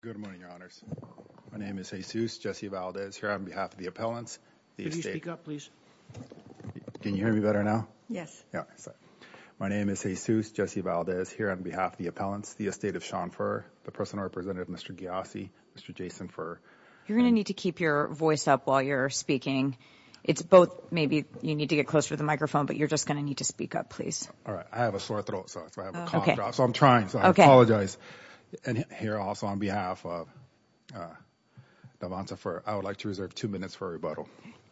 Good morning, Your Honours. My name is Jesus Jesse Valdez here on behalf of the appellants. Can you speak up, please? Can you hear me better now? Yes. My name is Jesus Jesse Valdez here on behalf of the appellants, the estate of Sean Furr, the personal representative, Mr. Ghiassi, Mr. Jason Furr. You're going to need to keep your voice up while you're speaking. It's both. Maybe you need to get closer to the microphone, but you're just going to need to speak up, please. All right. I have a sore throat, so I have a cough drop, so I'm trying, so I apologize. And here also on behalf of the appellants, I would like to reserve two minutes for a rebuttal.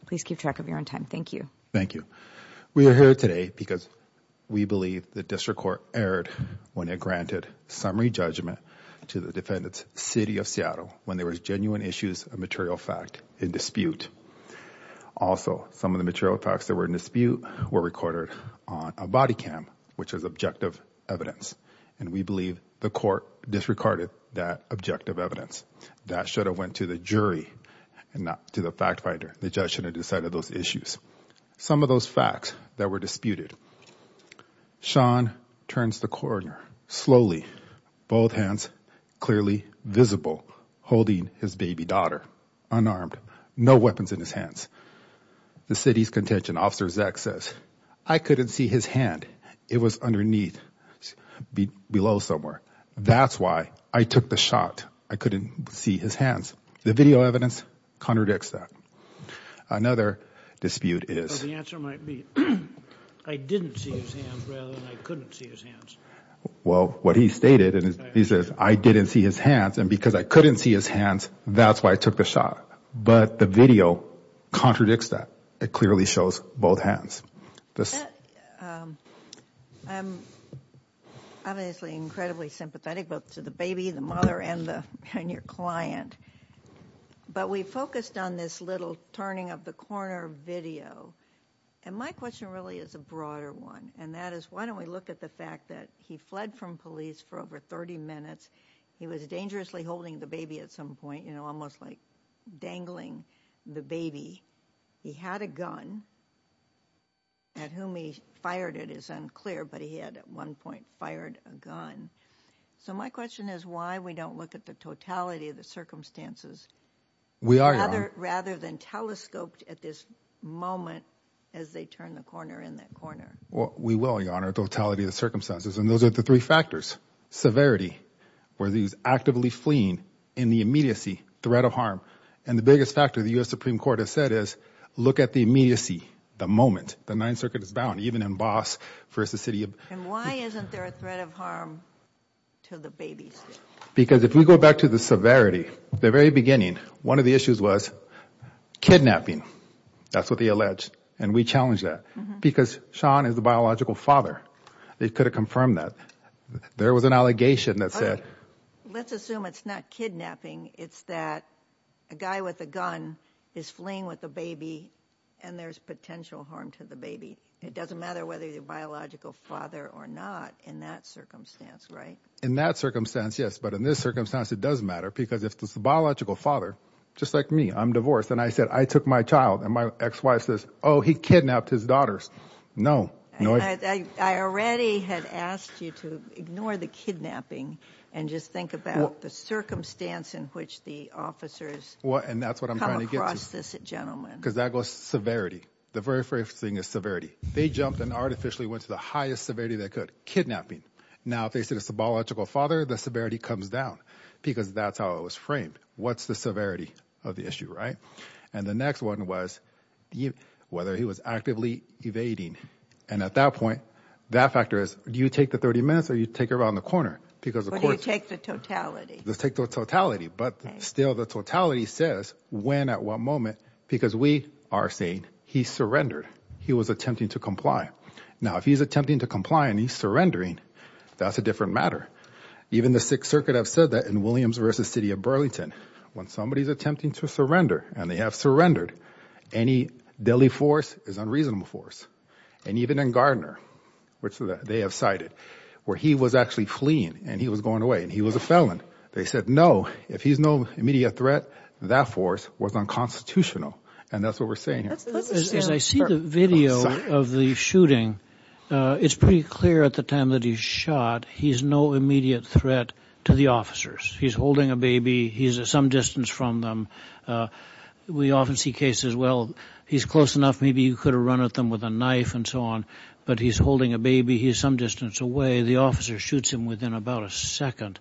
Please keep track of your own time. Thank you. Thank you. We are here today because we believe the district court erred when it granted summary judgment to the defendants, City of Seattle, when there was genuine issues of material fact in dispute. Also, some of the material facts that were in dispute were recorded on a body cam, which was objective evidence. And we believe the court disregarded that objective evidence that should have went to the jury and not to the fact finder. The judge should have decided those issues. Some of those facts that were disputed. Sean turns the corner slowly, both hands clearly visible, holding his baby daughter unarmed, no weapons in his hands. The city's contention officer, Zach, says, I couldn't see his hand. It was underneath, below somewhere. That's why I took the shot. I couldn't see his hands. The video evidence contradicts that. Another dispute is. The answer might be I didn't see his hands rather than I couldn't see his hands. Well, what he stated is I didn't see his hands and because I couldn't see his hands. That's why I took the shot. But the video contradicts that. It clearly shows both hands. I'm obviously incredibly sympathetic to the baby, the mother and your client. But we focused on this little turning of the corner video. And my question really is a broader one. And that is, why don't we look at the fact that he fled from police for over 30 minutes? He was dangerously holding the baby at some point, you know, almost like dangling the baby. He had a gun. At whom he fired, it is unclear, but he had at one point fired a gun. So my question is why we don't look at the totality of the circumstances. We are rather than telescoped at this moment as they turn the corner in that corner. Well, we will, Your Honor. Totality of the circumstances. And those are the three factors. Severity where these actively fleeing in the immediacy threat of harm. And the biggest factor the U.S. Supreme Court has said is look at the immediacy. The moment the Ninth Circuit is bound, even in boss versus city. And why isn't there a threat of harm to the baby? Because if we go back to the severity, the very beginning, one of the issues was kidnapping. That's what they alleged. And we challenge that because Sean is the biological father. They could have confirmed that there was an allegation that said, let's assume it's not kidnapping. It's that a guy with a gun is fleeing with a baby and there's potential harm to the baby. It doesn't matter whether you're a biological father or not in that circumstance, right? In that circumstance, yes. But in this circumstance, it does matter. Because if it's the biological father, just like me, I'm divorced. And I said I took my child and my ex-wife says, oh, he kidnapped his daughters. No. I already had asked you to ignore the kidnapping and just think about the circumstance in which the officers come across this gentleman. Because that goes to severity. The very first thing is severity. They jumped and artificially went to the highest severity they could. Kidnapping. Now, if they said it's the biological father, the severity comes down because that's how it was framed. What's the severity of the issue, right? And the next one was whether he was actively evading. And at that point, that factor is, do you take the 30 minutes or you take it around the corner? Do you take the totality? Let's take the totality. But still, the totality says when, at what moment? Because we are saying he surrendered. He was attempting to comply. Now, if he's attempting to comply and he's surrendering, that's a different matter. Even the Sixth Circuit have said that in Williams v. City of Burlington. When somebody's attempting to surrender and they have surrendered, any deadly force is unreasonable force. And even in Gardner, which they have cited, where he was actually fleeing and he was going away and he was a felon. They said, no, if he's no immediate threat, that force was unconstitutional. And that's what we're saying here. As I see the video of the shooting, it's pretty clear at the time that he's shot, he's no immediate threat to the officers. He's holding a baby. He's at some distance from them. We often see cases, well, he's close enough, maybe you could have run at them with a knife and so on. But he's holding a baby. He's some distance away. The officer shoots him within about a second.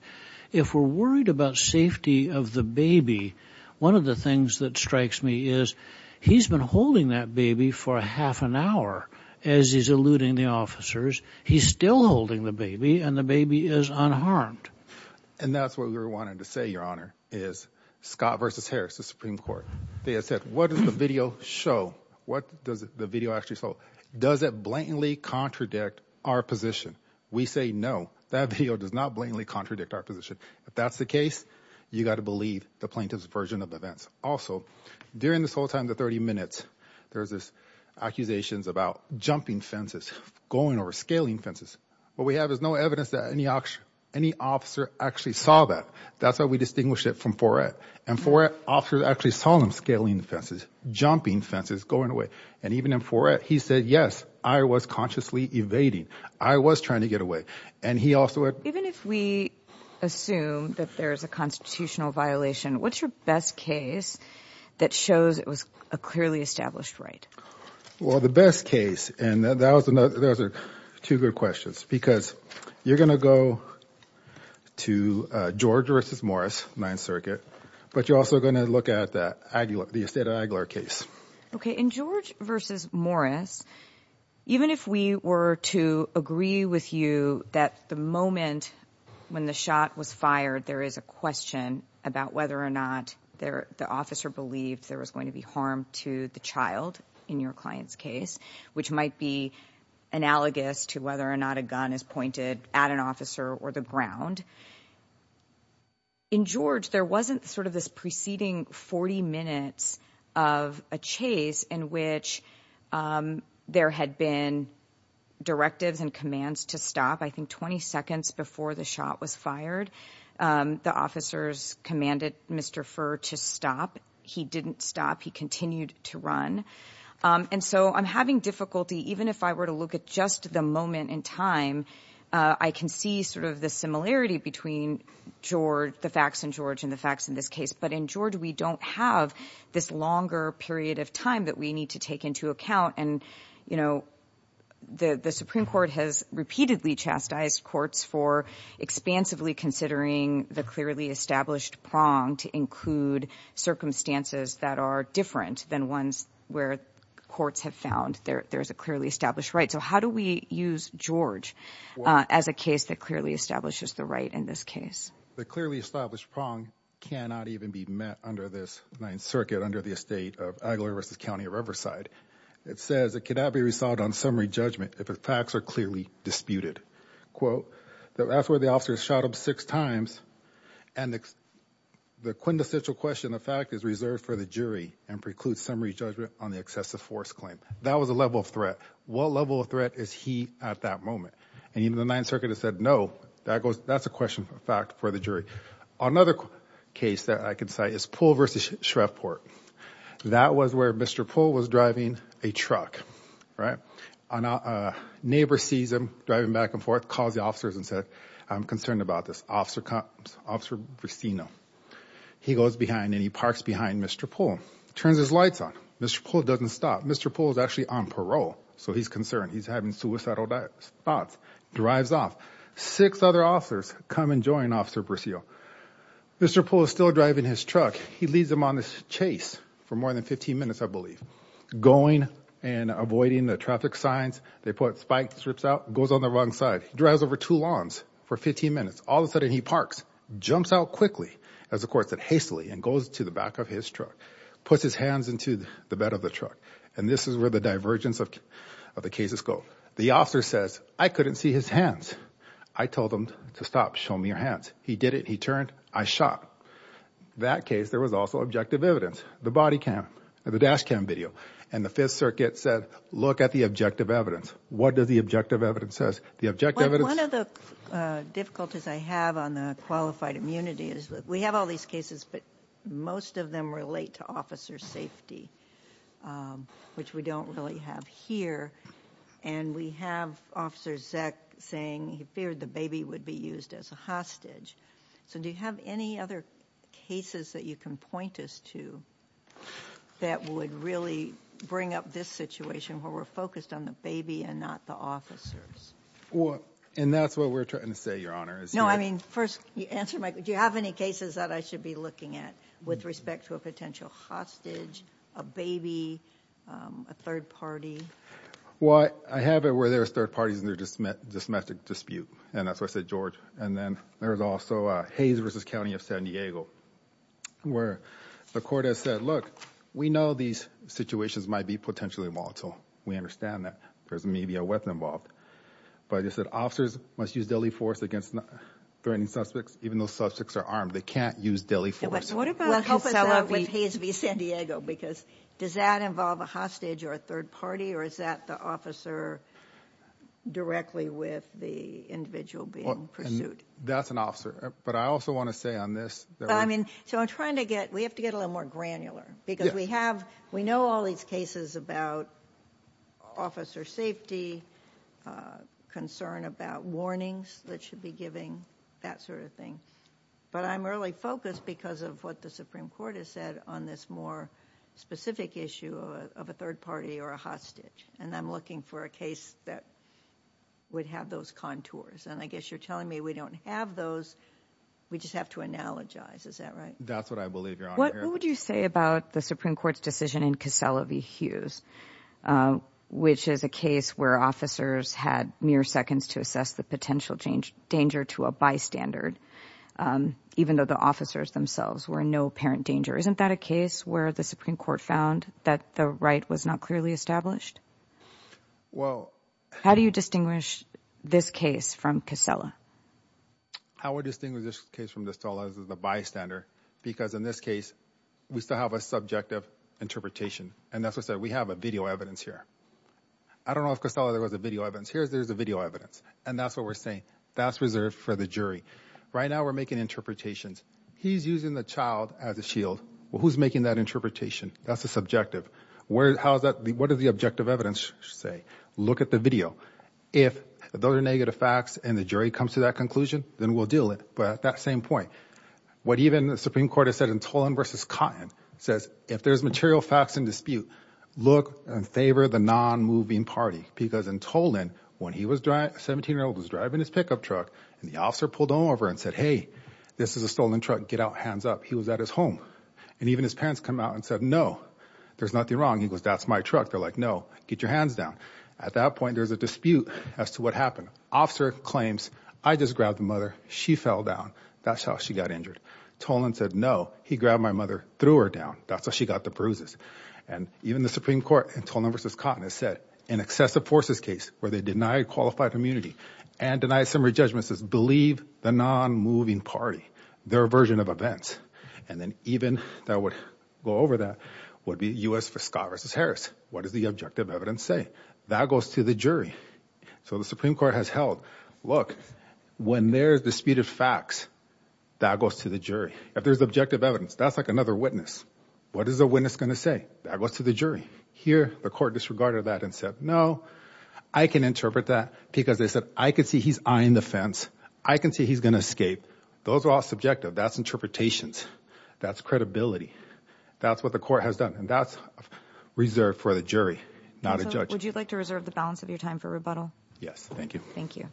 If we're worried about safety of the baby, one of the things that strikes me is he's been holding that baby for half an hour. As he's eluding the officers, he's still holding the baby and the baby is unharmed. And that's what we're wanting to say, Your Honor, is Scott versus Harris, the Supreme Court. They said, what does the video show? What does the video actually show? Does it blatantly contradict our position? We say, no, that video does not blatantly contradict our position. If that's the case, you got to believe the plaintiff's version of events. Also, during this whole time, the 30 minutes, there's this accusations about jumping fences, going over, scaling fences. What we have is no evidence that any officer actually saw that. That's how we distinguish it from Fourette. And Fourette officers actually saw him scaling the fences, jumping fences, going away. And even in Fourette, he said, yes, I was consciously evading. I was trying to get away. Even if we assume that there is a constitutional violation, what's your best case that shows it was a clearly established right? Well, the best case, and those are two good questions, because you're going to go to George versus Morris, 9th Circuit. But you're also going to look at the Aguilar case. OK, in George versus Morris, even if we were to agree with you that the moment when the shot was fired, there is a question about whether or not the officer believed there was going to be harm to the child in your client's case, which might be analogous to whether or not a gun is pointed at an officer or the ground. In George, there wasn't sort of this preceding 40 minutes of a chase in which there had been directives and commands to stop, I think, 20 seconds before the shot was fired. The officers commanded Mr. Furr to stop. He didn't stop. He continued to run. And so I'm having difficulty, even if I were to look at just the moment in time, I can see sort of the similarity between George, the facts in George and the facts in this case. But in George, we don't have this longer period of time that we need to take into account. And, you know, the Supreme Court has repeatedly chastised courts for expansively considering the clearly established prong to include circumstances that are different than ones where courts have found there is a clearly established right. So how do we use George as a case that clearly establishes the right in this case? The clearly established prong cannot even be met under this Ninth Circuit, under the estate of Aguilar versus County of Riverside. It says it cannot be resolved on summary judgment if the facts are clearly disputed. Quote, that's where the officers shot him six times. And the quintessential question, the fact is reserved for the jury and precludes summary judgment on the excessive force claim. That was a level of threat. What level of threat is he at that moment? And even the Ninth Circuit has said, no, that goes that's a question of fact for the jury. Another case that I could say is Poole versus Shreveport. That was where Mr. Poole was driving a truck, right? A neighbor sees him driving back and forth, calls the officers and said, I'm concerned about this. Officer comes, Officer Brissino, he goes behind and he parks behind Mr. Poole, turns his lights on. Mr. Poole doesn't stop. Mr. Poole is actually on parole. So he's concerned. He's having suicidal thoughts. Drives off. Six other officers come and join Officer Brissino. Mr. Poole is still driving his truck. He leads them on this chase for more than 15 minutes, I believe, going and avoiding the traffic signs. They put spike strips out, goes on the wrong side, drives over two lawns for 15 minutes. All of a sudden he parks, jumps out quickly, as the court said hastily, and goes to the back of his truck, puts his hands into the bed of the truck. And this is where the divergence of the cases go. The officer says, I couldn't see his hands. I told him to stop, show me your hands. He did it. He turned. I shot. That case, there was also objective evidence, the body cam, the dash cam video. And the Fifth Circuit said, look at the objective evidence. What does the objective evidence say? One of the difficulties I have on the qualified immunity is that we have all these cases, but most of them relate to officer safety, which we don't really have here. And we have Officer Zeck saying he feared the baby would be used as a hostage. So do you have any other cases that you can point us to that would really bring up this situation, where we're focused on the baby and not the officers? And that's what we're trying to say, Your Honor. No, I mean, first answer, Mike, do you have any cases that I should be looking at with respect to a potential hostage, a baby, a third party? Well, I have it where there's third parties and there's a dysmetric dispute. And that's what I said, George. And then there's also Hayes v. County of San Diego, where the court has said, look, we know these situations might be potentially volatile. We understand that. There's maybe a weapon involved. But I just said officers must use deadly force against threatening suspects, even though suspects are armed. They can't use deadly force. What about with Hayes v. San Diego? Because does that involve a hostage or a third party? Or is that the officer directly with the individual being pursued? That's an officer. But I also want to say on this. I mean, so I'm trying to get we have to get a little more granular, because we have we know all these cases about officer safety, concern about warnings that should be giving that sort of thing. But I'm really focused because of what the Supreme Court has said on this more specific issue of a third party or a hostage. And I'm looking for a case that would have those contours. And I guess you're telling me we don't have those. We just have to analogize. Is that right? That's what I believe. What would you say about the Supreme Court's decision in Casella v. Hughes, which is a case where officers had mere seconds to assess the potential danger to a bystander, even though the officers themselves were no apparent danger. Isn't that a case where the Supreme Court found that the right was not clearly established? Well, how do you distinguish this case from Casella? How we distinguish this case from this is the bystander, because in this case, we still have a subjective interpretation. And that's why we have a video evidence here. I don't know if there was a video evidence. Here's there's a video evidence. And that's what we're saying. That's reserved for the jury. Right now, we're making interpretations. He's using the child as a shield. Well, who's making that interpretation? That's a subjective word. How is that? What does the objective evidence say? Look at the video. If those are negative facts and the jury comes to that conclusion, then we'll deal it. But at that same point, what even the Supreme Court has said in Tolan v. Cotton says, if there's material facts in dispute, look and favor the non-moving party. Because in Tolan, when he was 17 years old, he was driving his pickup truck. And the officer pulled over and said, hey, this is a stolen truck. Get out, hands up. He was at his home. And even his parents come out and said, no, there's nothing wrong. He goes, that's my truck. They're like, no, get your hands down. At that point, there's a dispute as to what happened. Officer claims, I just grabbed the mother. She fell down. That's how she got injured. Tolan said, no, he grabbed my mother, threw her down. That's how she got the bruises. And even the Supreme Court in Tolan v. Cotton has said in excessive forces case where they denied qualified immunity and denied summary judgment says, believe the non-moving party, their version of events. And then even that would go over that would be U.S. for Scott v. Harris. What does the objective evidence say? That goes to the jury. So the Supreme Court has held, look, when there's dispute of facts, that goes to the jury. If there's objective evidence, that's like another witness. What is the witness going to say? That goes to the jury. Here, the court disregarded that and said, no, I can interpret that because they said, I could see he's eyeing the fence. I can see he's going to escape. Those are all subjective. That's interpretations. That's credibility. That's what the court has done. And that's reserved for the jury, not a judge. Would you like to reserve the balance of your time for rebuttal? Yes. Thank you. Thank you.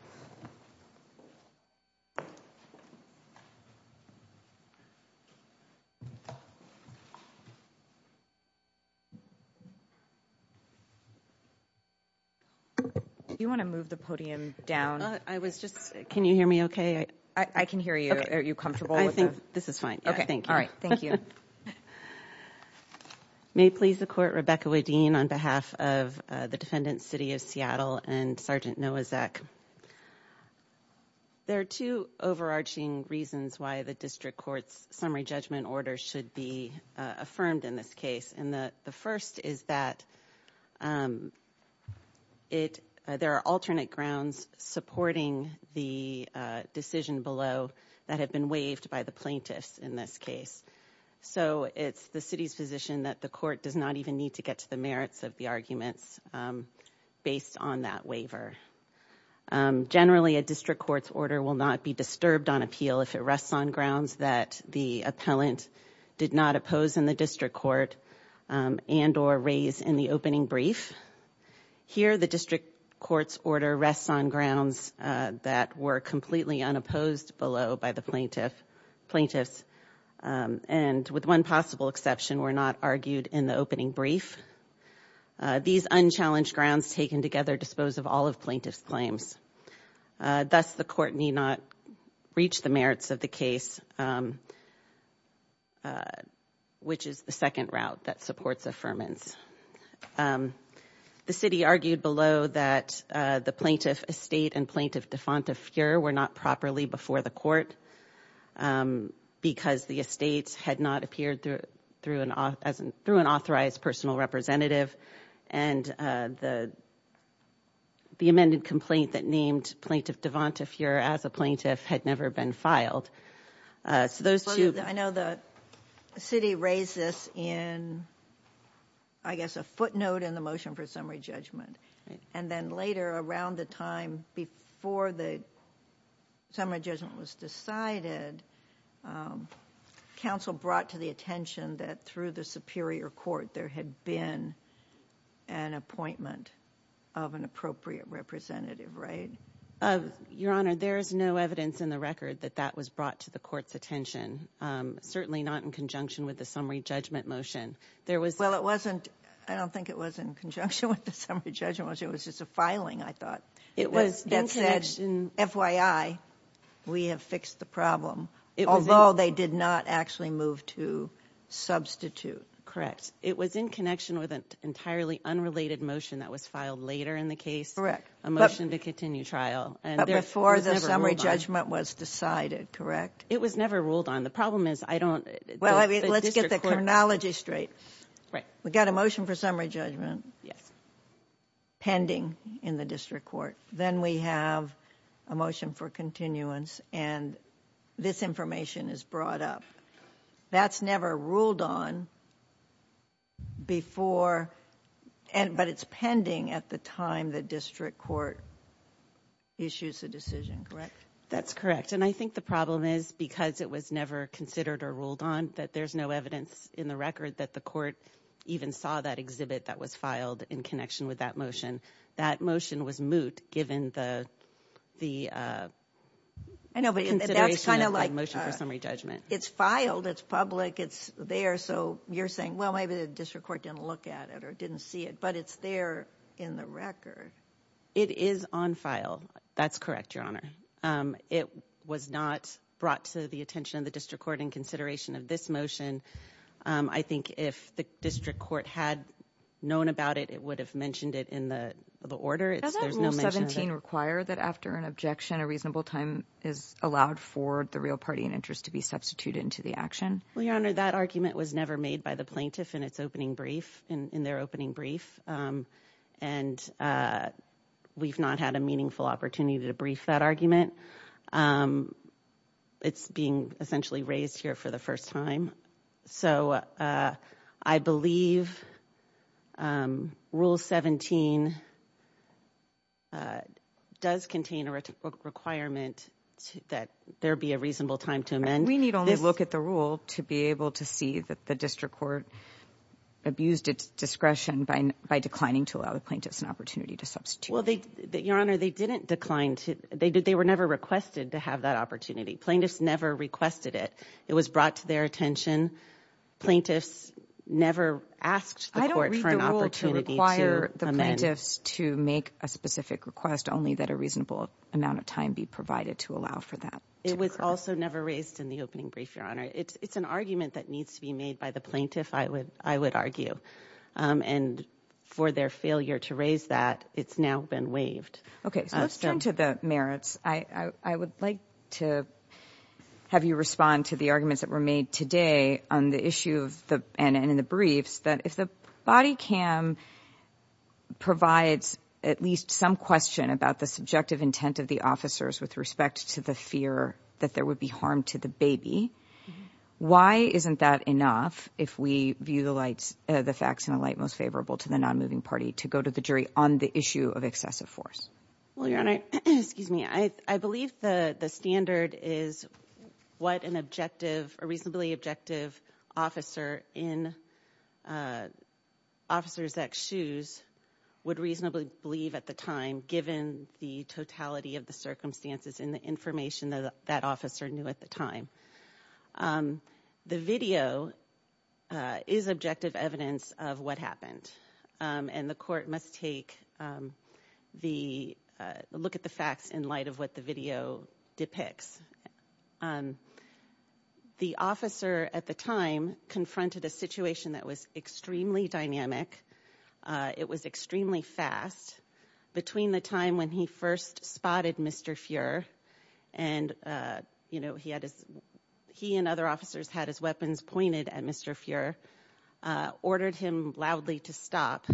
You want to move the podium down? I was just. Can you hear me OK? I can hear you. Are you comfortable? I think this is fine. OK, thank you. All right. Thank you. May please the court. Rebecca, we're Dean on behalf of the defendant, city of Seattle and Sergeant Noah Zack. There are two overarching reasons why the district court's summary judgment order should be affirmed in this case. And the first is that it there are alternate grounds supporting the decision below that have been waived by the plaintiffs in this case. So it's the city's position that the court does not even need to get to the merits of the arguments based on that waiver. Generally, a district court's order will not be disturbed on appeal if it rests on grounds that the appellant did not oppose in the district court. And or raise in the opening brief here, the district court's order rests on grounds that were completely unopposed below by the plaintiff plaintiffs. And with one possible exception, were not argued in the opening brief. These unchallenged grounds taken together dispose of all of plaintiff's claims. Thus, the court need not reach the merits of the case. Which is the second route that supports affirmance. The city argued below that the plaintiff estate and plaintiff defunct of fear were not properly before the court. Because the estates had not appeared through an authorized personal representative. And the amended complaint that named plaintiff Devon to fear as a plaintiff had never been filed. So those two- I know the city raised this in, I guess, a footnote in the motion for summary judgment. And then later around the time before the summary judgment was decided, council brought to the attention that through the superior court there had been an appointment of an appropriate representative, right? Your Honor, there is no evidence in the record that that was brought to the court's attention. Certainly not in conjunction with the summary judgment motion. Well, I don't think it was in conjunction with the summary judgment motion. It was just a filing, I thought. It was in connection- That said, FYI, we have fixed the problem. Although they did not actually move to substitute. Correct. It was in connection with an entirely unrelated motion that was filed later in the case. Correct. A motion to continue trial. But before the summary judgment was decided, correct? It was never ruled on. The problem is, I don't- Well, let's get the chronology straight. Right. We've got a motion for summary judgment pending in the district court. Then we have a motion for continuance, and this information is brought up. That's never ruled on before, but it's pending at the time the district court issues a decision, correct? That's correct. And I think the problem is, because it was never considered or ruled on, that there's no evidence in the record that the court even saw that exhibit that was filed in connection with that motion. That motion was moot, given the consideration of the motion for summary judgment. It's filed. It's public. It's there. So you're saying, well, maybe the district court didn't look at it or didn't see it, but it's there in the record. It is on file. That's correct, Your Honor. It was not brought to the attention of the district court in consideration of this motion. I think if the district court had known about it, it would have mentioned it in the order. Doesn't Rule 17 require that after an objection, a reasonable time is allowed for the real party in interest to be substituted into the action? Well, Your Honor, that argument was never made by the plaintiff in its opening brief, in their opening brief. And we've not had a meaningful opportunity to brief that argument. It's being essentially raised here for the first time. So I believe Rule 17 does contain a requirement that there be a reasonable time to amend. We need only look at the rule to be able to see that the district court abused its discretion by declining to allow the plaintiffs an opportunity to substitute. Well, Your Honor, they didn't decline. They were never requested to have that opportunity. Plaintiffs never requested it. It was brought to their attention. Plaintiffs never asked the court for an opportunity to amend. I don't read the rule to require the plaintiffs to make a specific request, only that a reasonable amount of time be provided to allow for that to occur. It was also never raised in the opening brief, Your Honor. It's an argument that needs to be made by the plaintiff, I would argue. And for their failure to raise that, it's now been waived. Okay, so let's turn to the merits. I would like to have you respond to the arguments that were made today on the issue and in the briefs that if the body cam provides at least some question about the subjective intent of the officers with respect to the fear that there would be harm to the baby, why isn't that enough if we view the facts in a light most favorable to the nonmoving party to go to the jury on the issue of excessive force? Well, Your Honor, I believe the standard is what a reasonably objective officer in Officer's ex shoes would reasonably believe at the time, given the totality of the circumstances and the information that that officer knew at the time. The video is objective evidence of what happened, and the court must take the look at the facts in light of what the video depicts. And the officer at the time confronted a situation that was extremely dynamic. It was extremely fast between the time when he first spotted Mr. And, uh, you know, he had his he and other officers had his weapons pointed at Mr. Fear ordered him loudly to stop.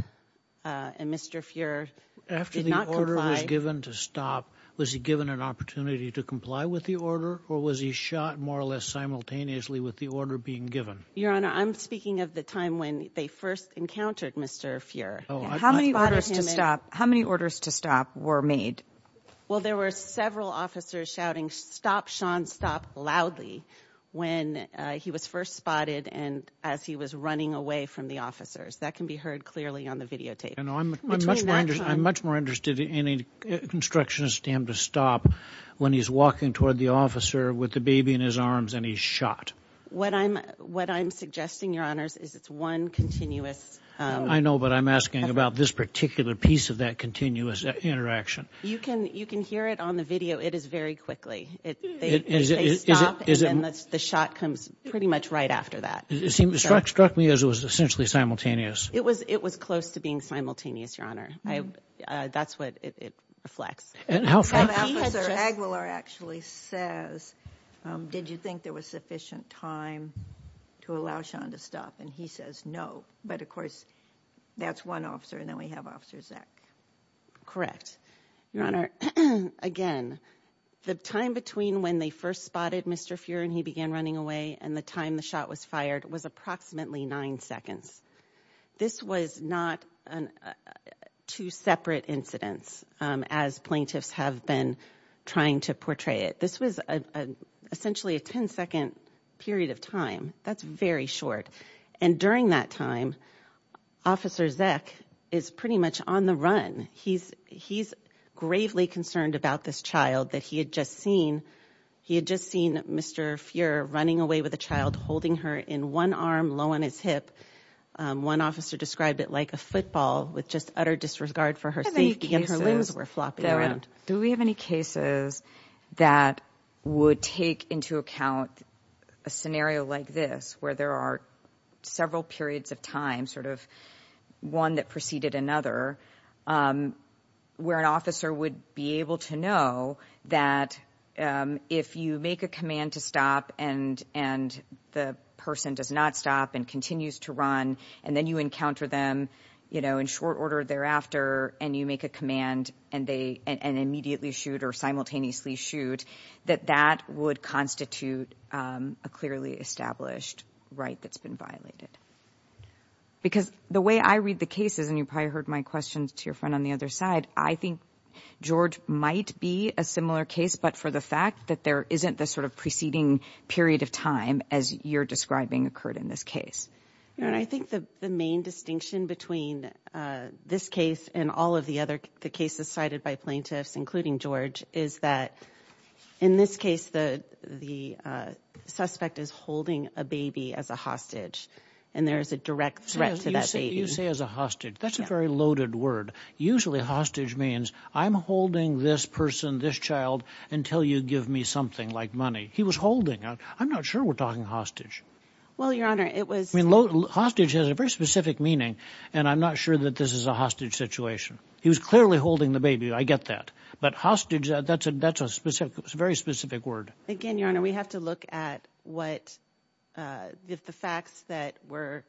And Mr. Fear after the order was given to stop, was he given an opportunity to comply with the order or was he shot more or less simultaneously with the order being given? Your Honor, I'm speaking of the time when they first encountered Mr. Fear. How many orders to stop? How many orders to stop were made? Well, there were several officers shouting stop, Sean, stop loudly when he was first spotted and as he was running away from the officers. That can be heard clearly on the videotape. And I'm much more interested in a constructionist to him to stop when he's walking toward the officer with the baby in his arms and he's shot. What I'm what I'm suggesting, Your Honors, is it's one continuous. I know, but I'm asking about this particular piece of that continuous interaction. You can you can hear it on the video. It is very quickly. It is. It is. And that's the shot comes pretty much right after that. It seemed struck struck me as it was essentially simultaneous. It was it was close to being simultaneous. Your Honor. That's what it reflects. And how far will are actually says, did you think there was sufficient time to allow Sean to stop? And he says no. But of course, that's one officer. And then we have officers that. Your Honor. Again, the time between when they first spotted Mr. Fuhrer and he began running away and the time the shot was fired was approximately nine seconds. This was not an two separate incidents as plaintiffs have been trying to portray it. This was essentially a 10 second period of time. That's very short. And during that time, Officer Zeck is pretty much on the run. He's he's gravely concerned about this child that he had just seen. He had just seen Mr. Fuhrer running away with a child holding her in one arm, low on his hip. One officer described it like a football with just utter disregard for her safety and her limbs were flopping around. Do we have any cases that would take into account a scenario like this where there are several periods of time, sort of one that preceded another, where an officer would be able to know that if you make a command to stop and and the person does not stop and continues to run and then you encounter them, you know, in short order thereafter and you make a command and they and immediately shoot or simultaneously shoot, that that would constitute a clearly established right that's been violated. Because the way I read the cases and you probably heard my questions to your friend on the other side, I think George might be a similar case, but for the fact that there isn't the sort of preceding period of time, as you're describing, occurred in this case. And I think the main distinction between this case and all of the other cases cited by plaintiffs, including George, is that in this case, the the suspect is holding a baby as a hostage and there is a direct threat to that. You say as a hostage, that's a very loaded word. Usually hostage means I'm holding this person, this child until you give me something like money. He was holding out. I'm not sure we're talking hostage. Well, your honor, it was hostage has a very specific meaning. And I'm not sure that this is a hostage situation. He was clearly holding the baby. I get that. But hostage. That's a that's a specific, very specific word. Again, your honor, we have to look at what the facts that were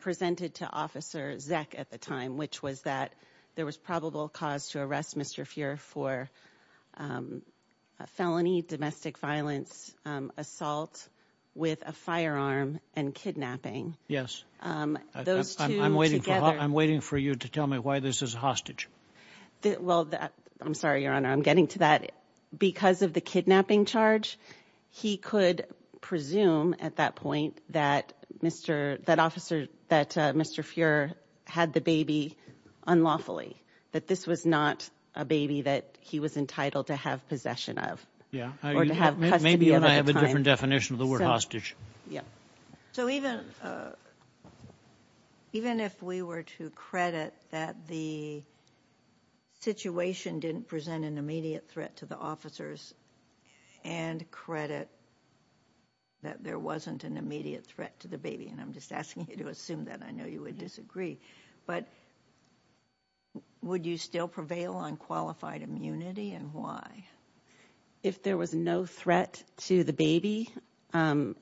presented to Officer Zack at the time, which was that there was probable cause to arrest Mr. for a felony domestic violence assault with a firearm and kidnapping. Yes. I'm waiting for I'm waiting for you to tell me why this is hostage. Well, I'm sorry, your honor. I'm getting to that because of the kidnapping charge. He could presume at that point that Mr. that officer that Mr. Fuehrer had the baby unlawfully, that this was not a baby that he was entitled to have possession of. Yeah. Or to have custody. I have a different definition of the word hostage. Yeah. So even even if we were to credit that the situation didn't present an immediate threat to the officers and credit that there wasn't an immediate threat to the baby. And I'm just asking you to assume that I know you would disagree. But would you still prevail on qualified immunity and why? If there was no threat to the baby, I'm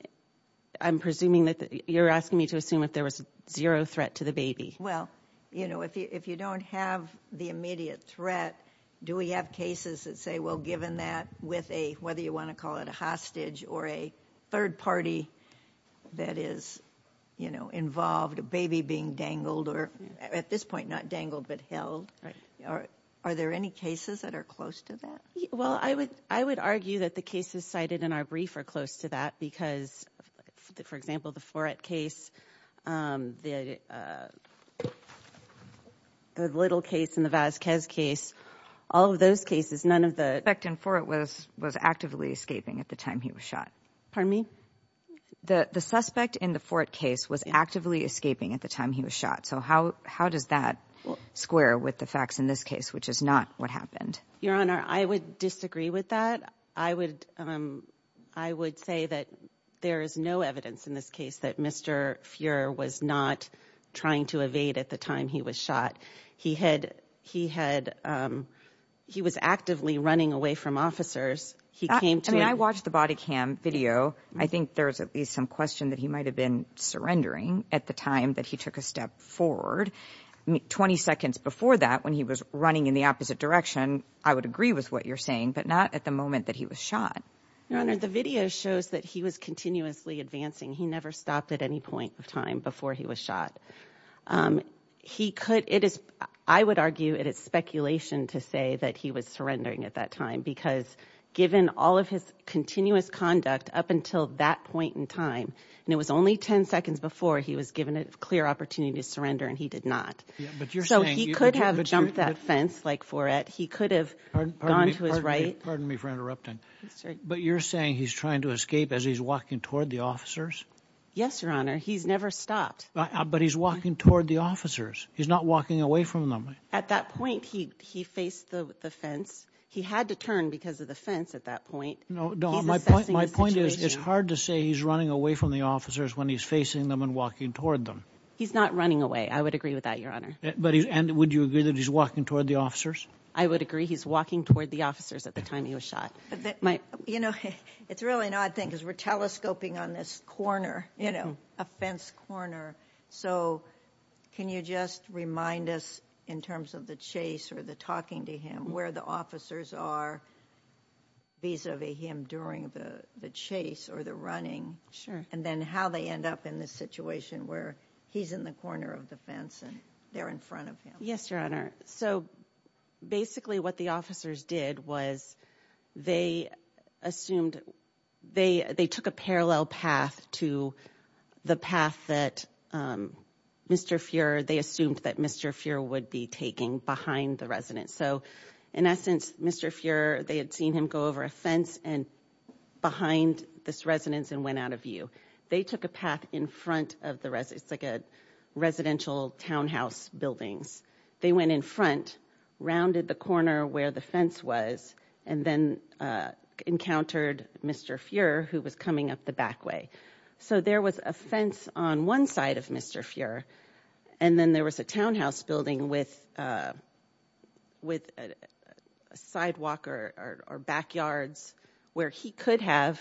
presuming that you're asking me to assume if there was zero threat to the baby. Well, you know, if you if you don't have the immediate threat, do we have cases that say, well, given that with a whether you want to call it a hostage or a third party that is, you know, involved a baby being dangled or at this point, not dangled, but held. Are there any cases that are close to that? Well, I would I would argue that the cases cited in our brief are close to that because, for example, the Fourette case, the little case in the Vasquez case, all of those cases, none of the. Backed in for it was was actively escaping at the time he was shot for me. The suspect in the fourth case was actively escaping at the time he was shot. So how how does that square with the facts in this case, which is not what happened? Your Honor, I would disagree with that. I would I would say that there is no evidence in this case that Mr. Fuhrer was not trying to evade at the time he was shot. He had he had he was actively running away from officers. He came to me. I watched the body cam video. I think there is at least some question that he might have been surrendering at the time that he took a step forward. Twenty seconds before that, when he was running in the opposite direction. I would agree with what you're saying, but not at the moment that he was shot. Your Honor, the video shows that he was continuously advancing. He never stopped at any point of time before he was shot. He could it is I would argue it is speculation to say that he was surrendering at that time, because given all of his continuous conduct up until that point in time, and it was only 10 seconds before he was given a clear opportunity to surrender. And he did not. But you're saying he could have jumped that fence like for it. He could have gone to his right. Pardon me for interrupting. But you're saying he's trying to escape as he's walking toward the officers. Yes, Your Honor. He's never stopped. But he's walking toward the officers. He's not walking away from them. At that point, he he faced the fence. He had to turn because of the fence at that point. No, no. My point is, it's hard to say he's running away from the officers when he's facing them and walking toward them. He's not running away. I would agree with that, Your Honor. But would you agree that he's walking toward the officers? I would agree he's walking toward the officers at the time he was shot. But, you know, it's really an odd thing because we're telescoping on this corner, you know, a fence corner. So can you just remind us in terms of the chase or the talking to him where the officers are? Vis-a-vis him during the chase or the running. Sure. And then how they end up in this situation where he's in the corner of the fence and they're in front of him. Yes, Your Honor. So basically what the officers did was they assumed they they took a parallel path to the path that Mr. Fuehrer, they assumed that Mr. Fuehrer would be taking behind the residence. So in essence, Mr. Fuehrer, they had seen him go over a fence and behind this residence and went out of view. They took a path in front of the residence, like a residential townhouse buildings. They went in front, rounded the corner where the fence was, and then encountered Mr. Fuehrer, who was coming up the back way. So there was a fence on one side of Mr. Fuehrer. And then there was a townhouse building with with a sidewalk or backyards where he could have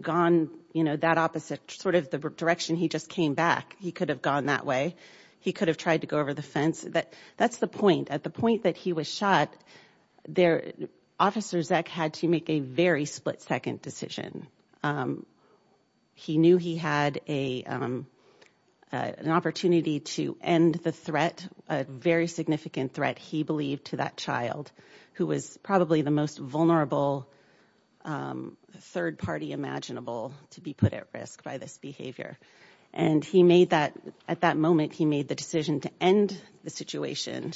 gone, you know, that opposite sort of the direction he just came back. He could have gone that way. He could have tried to go over the fence. That's the point. At the point that he was shot there, Officer Zeck had to make a very split second decision. He knew he had a an opportunity to end the threat, a very significant threat, he believed, to that child who was probably the most vulnerable third party imaginable to be put at risk by this behavior. And he made that at that moment, he made the decision to end the situation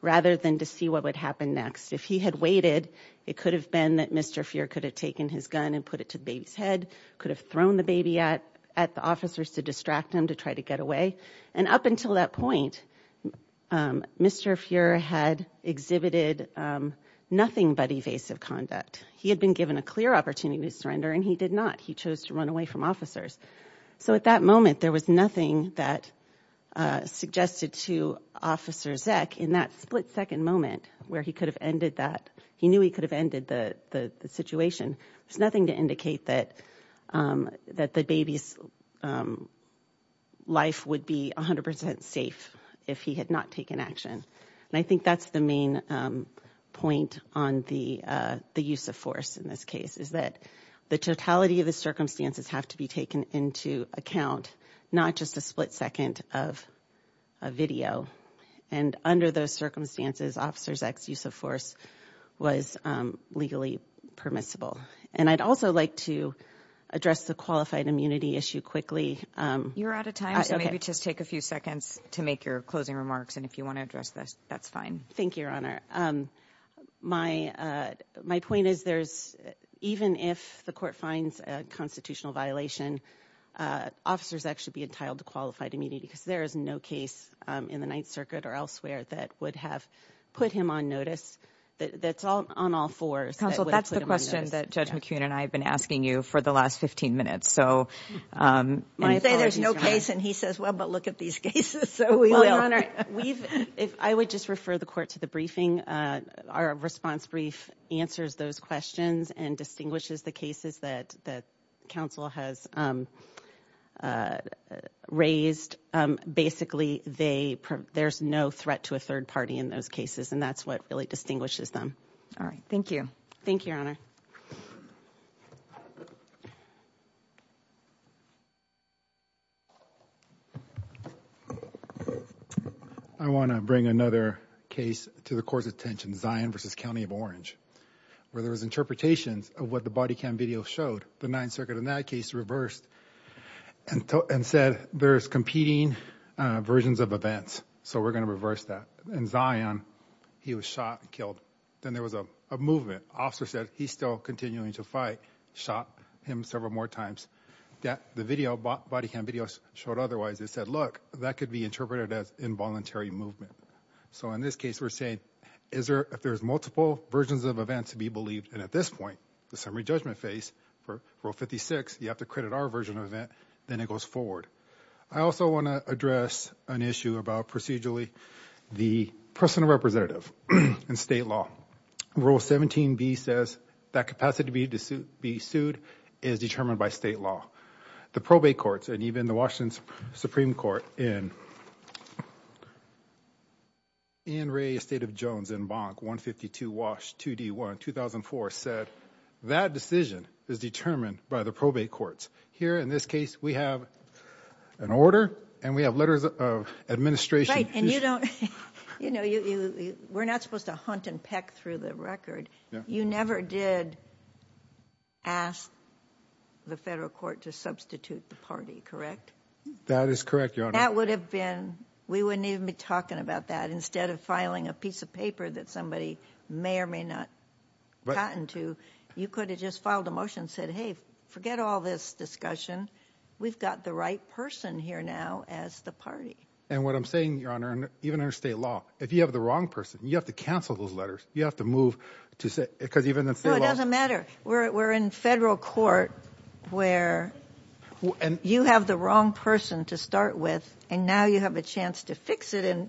rather than to see what would happen next. If he had waited, it could have been that Mr. Fuehrer could have taken his gun and put it to the baby's head, could have thrown the baby at at the officers to distract him to try to get away. And up until that point, Mr. Fuehrer had exhibited nothing but evasive conduct. He had been given a clear opportunity to surrender and he did not. He chose to run away from officers. So at that moment, there was nothing that suggested to Officer Zeck in that split second moment where he could have ended that. He knew he could have ended the situation. There's nothing to indicate that the baby's life would be 100 percent safe if he had not taken action. And I think that's the main point on the use of force in this case, is that the totality of the circumstances have to be taken into account, not just a split second of a video. And under those circumstances, Officer Zeck's use of force was legally permissible. And I'd also like to address the qualified immunity issue quickly. You're out of time, so maybe just take a few seconds to make your closing remarks. And if you want to address this, that's fine. Thank you, Your Honor. My point is there's even if the court finds a constitutional violation, officers actually be entitled to qualified immunity because there is no case in the Ninth Circuit or elsewhere that would have put him on notice. That's all on all fours. Counsel, that's the question that Judge McKeon and I have been asking you for the last 15 minutes. You say there's no case, and he says, well, but look at these cases. I would just refer the court to the briefing. Our response brief answers those questions and distinguishes the cases that counsel has raised. Basically, there's no threat to a third party in those cases, and that's what really distinguishes them. All right. Thank you. Thank you, Your Honor. I want to bring another case to the court's attention, Zion v. County of Orange, where there was interpretations of what the body cam video showed. The Ninth Circuit in that case reversed and said there's competing versions of events, so we're going to reverse that. In Zion, he was shot and killed. Then there was a movement. Officer said he's still continuing to fight, shot him several more times. The body cam video showed otherwise. It said, look, that could be interpreted as involuntary movement. So in this case, we're saying if there's multiple versions of events to be believed, and at this point, the summary judgment phase for Rule 56, you have to credit our version of event, then it goes forward. I also want to address an issue about procedurally the personal representative in state law. Rule 17b says that capacity to be sued is determined by state law. The probate courts and even the Washington Supreme Court in Ann Ray Estate of Jones in Bonk 152 Wash 2D1, 2004, said that decision is determined by the probate courts. Here, in this case, we have an order and we have letters of administration. Right, and you don't, you know, we're not supposed to hunt and peck through the record. You never did ask the federal court to substitute the party, correct? That is correct, Your Honor. That would have been, we wouldn't even be talking about that. You could have just filed a motion and said, hey, forget all this discussion. We've got the right person here now as the party. And what I'm saying, Your Honor, even under state law, if you have the wrong person, you have to cancel those letters. You have to move to say, because even in state law. No, it doesn't matter. We're in federal court where you have the wrong person to start with. And now you have a chance to fix it and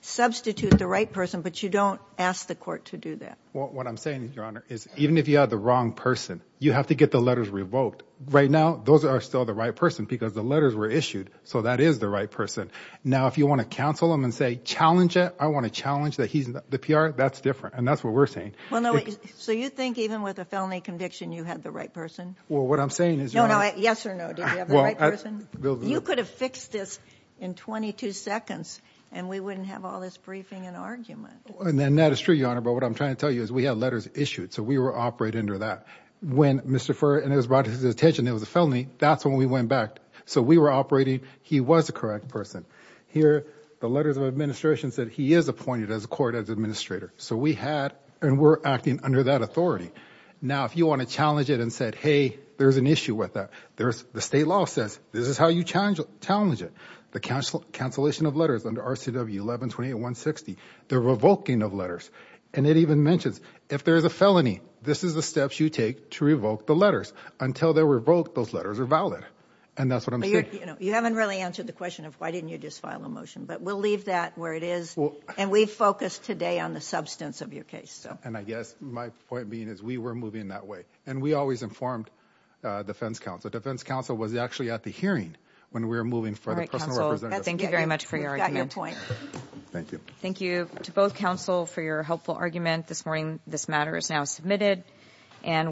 substitute the right person. But you don't ask the court to do that. What I'm saying, Your Honor, is even if you have the wrong person, you have to get the letters revoked. Right now, those are still the right person because the letters were issued. So that is the right person. Now, if you want to counsel him and say, challenge it. I want to challenge that he's the PR. That's different. And that's what we're saying. Well, no, so you think even with a felony conviction you had the right person? Well, what I'm saying is, Your Honor. No, no, yes or no. Did you have the right person? You could have fixed this in 22 seconds and we wouldn't have all this briefing and argument. And that is true, Your Honor, but what I'm trying to tell you is we had letters issued. So we were operating under that. When Mr. Furr, and it was brought to his attention it was a felony, that's when we went back. So we were operating. He was the correct person. Here, the letters of administration said he is appointed as a court administrator. So we had, and we're acting under that authority. Now, if you want to challenge it and say, hey, there's an issue with that. The state law says, this is how you challenge it. The cancellation of letters under RCW 11-28-160. The revoking of letters. And it even mentions, if there's a felony, this is the steps you take to revoke the letters. Until they're revoked, those letters are valid. And that's what I'm saying. You haven't really answered the question of why didn't you just file a motion. But we'll leave that where it is. And we focus today on the substance of your case. And I guess my point being is we were moving that way. And we always informed defense counsel. Defense counsel was actually at the hearing when we were moving for the personal representatives. Thank you very much for your argument. Thank you. Thank you to both counsel for your helpful argument this morning. This matter is now submitted.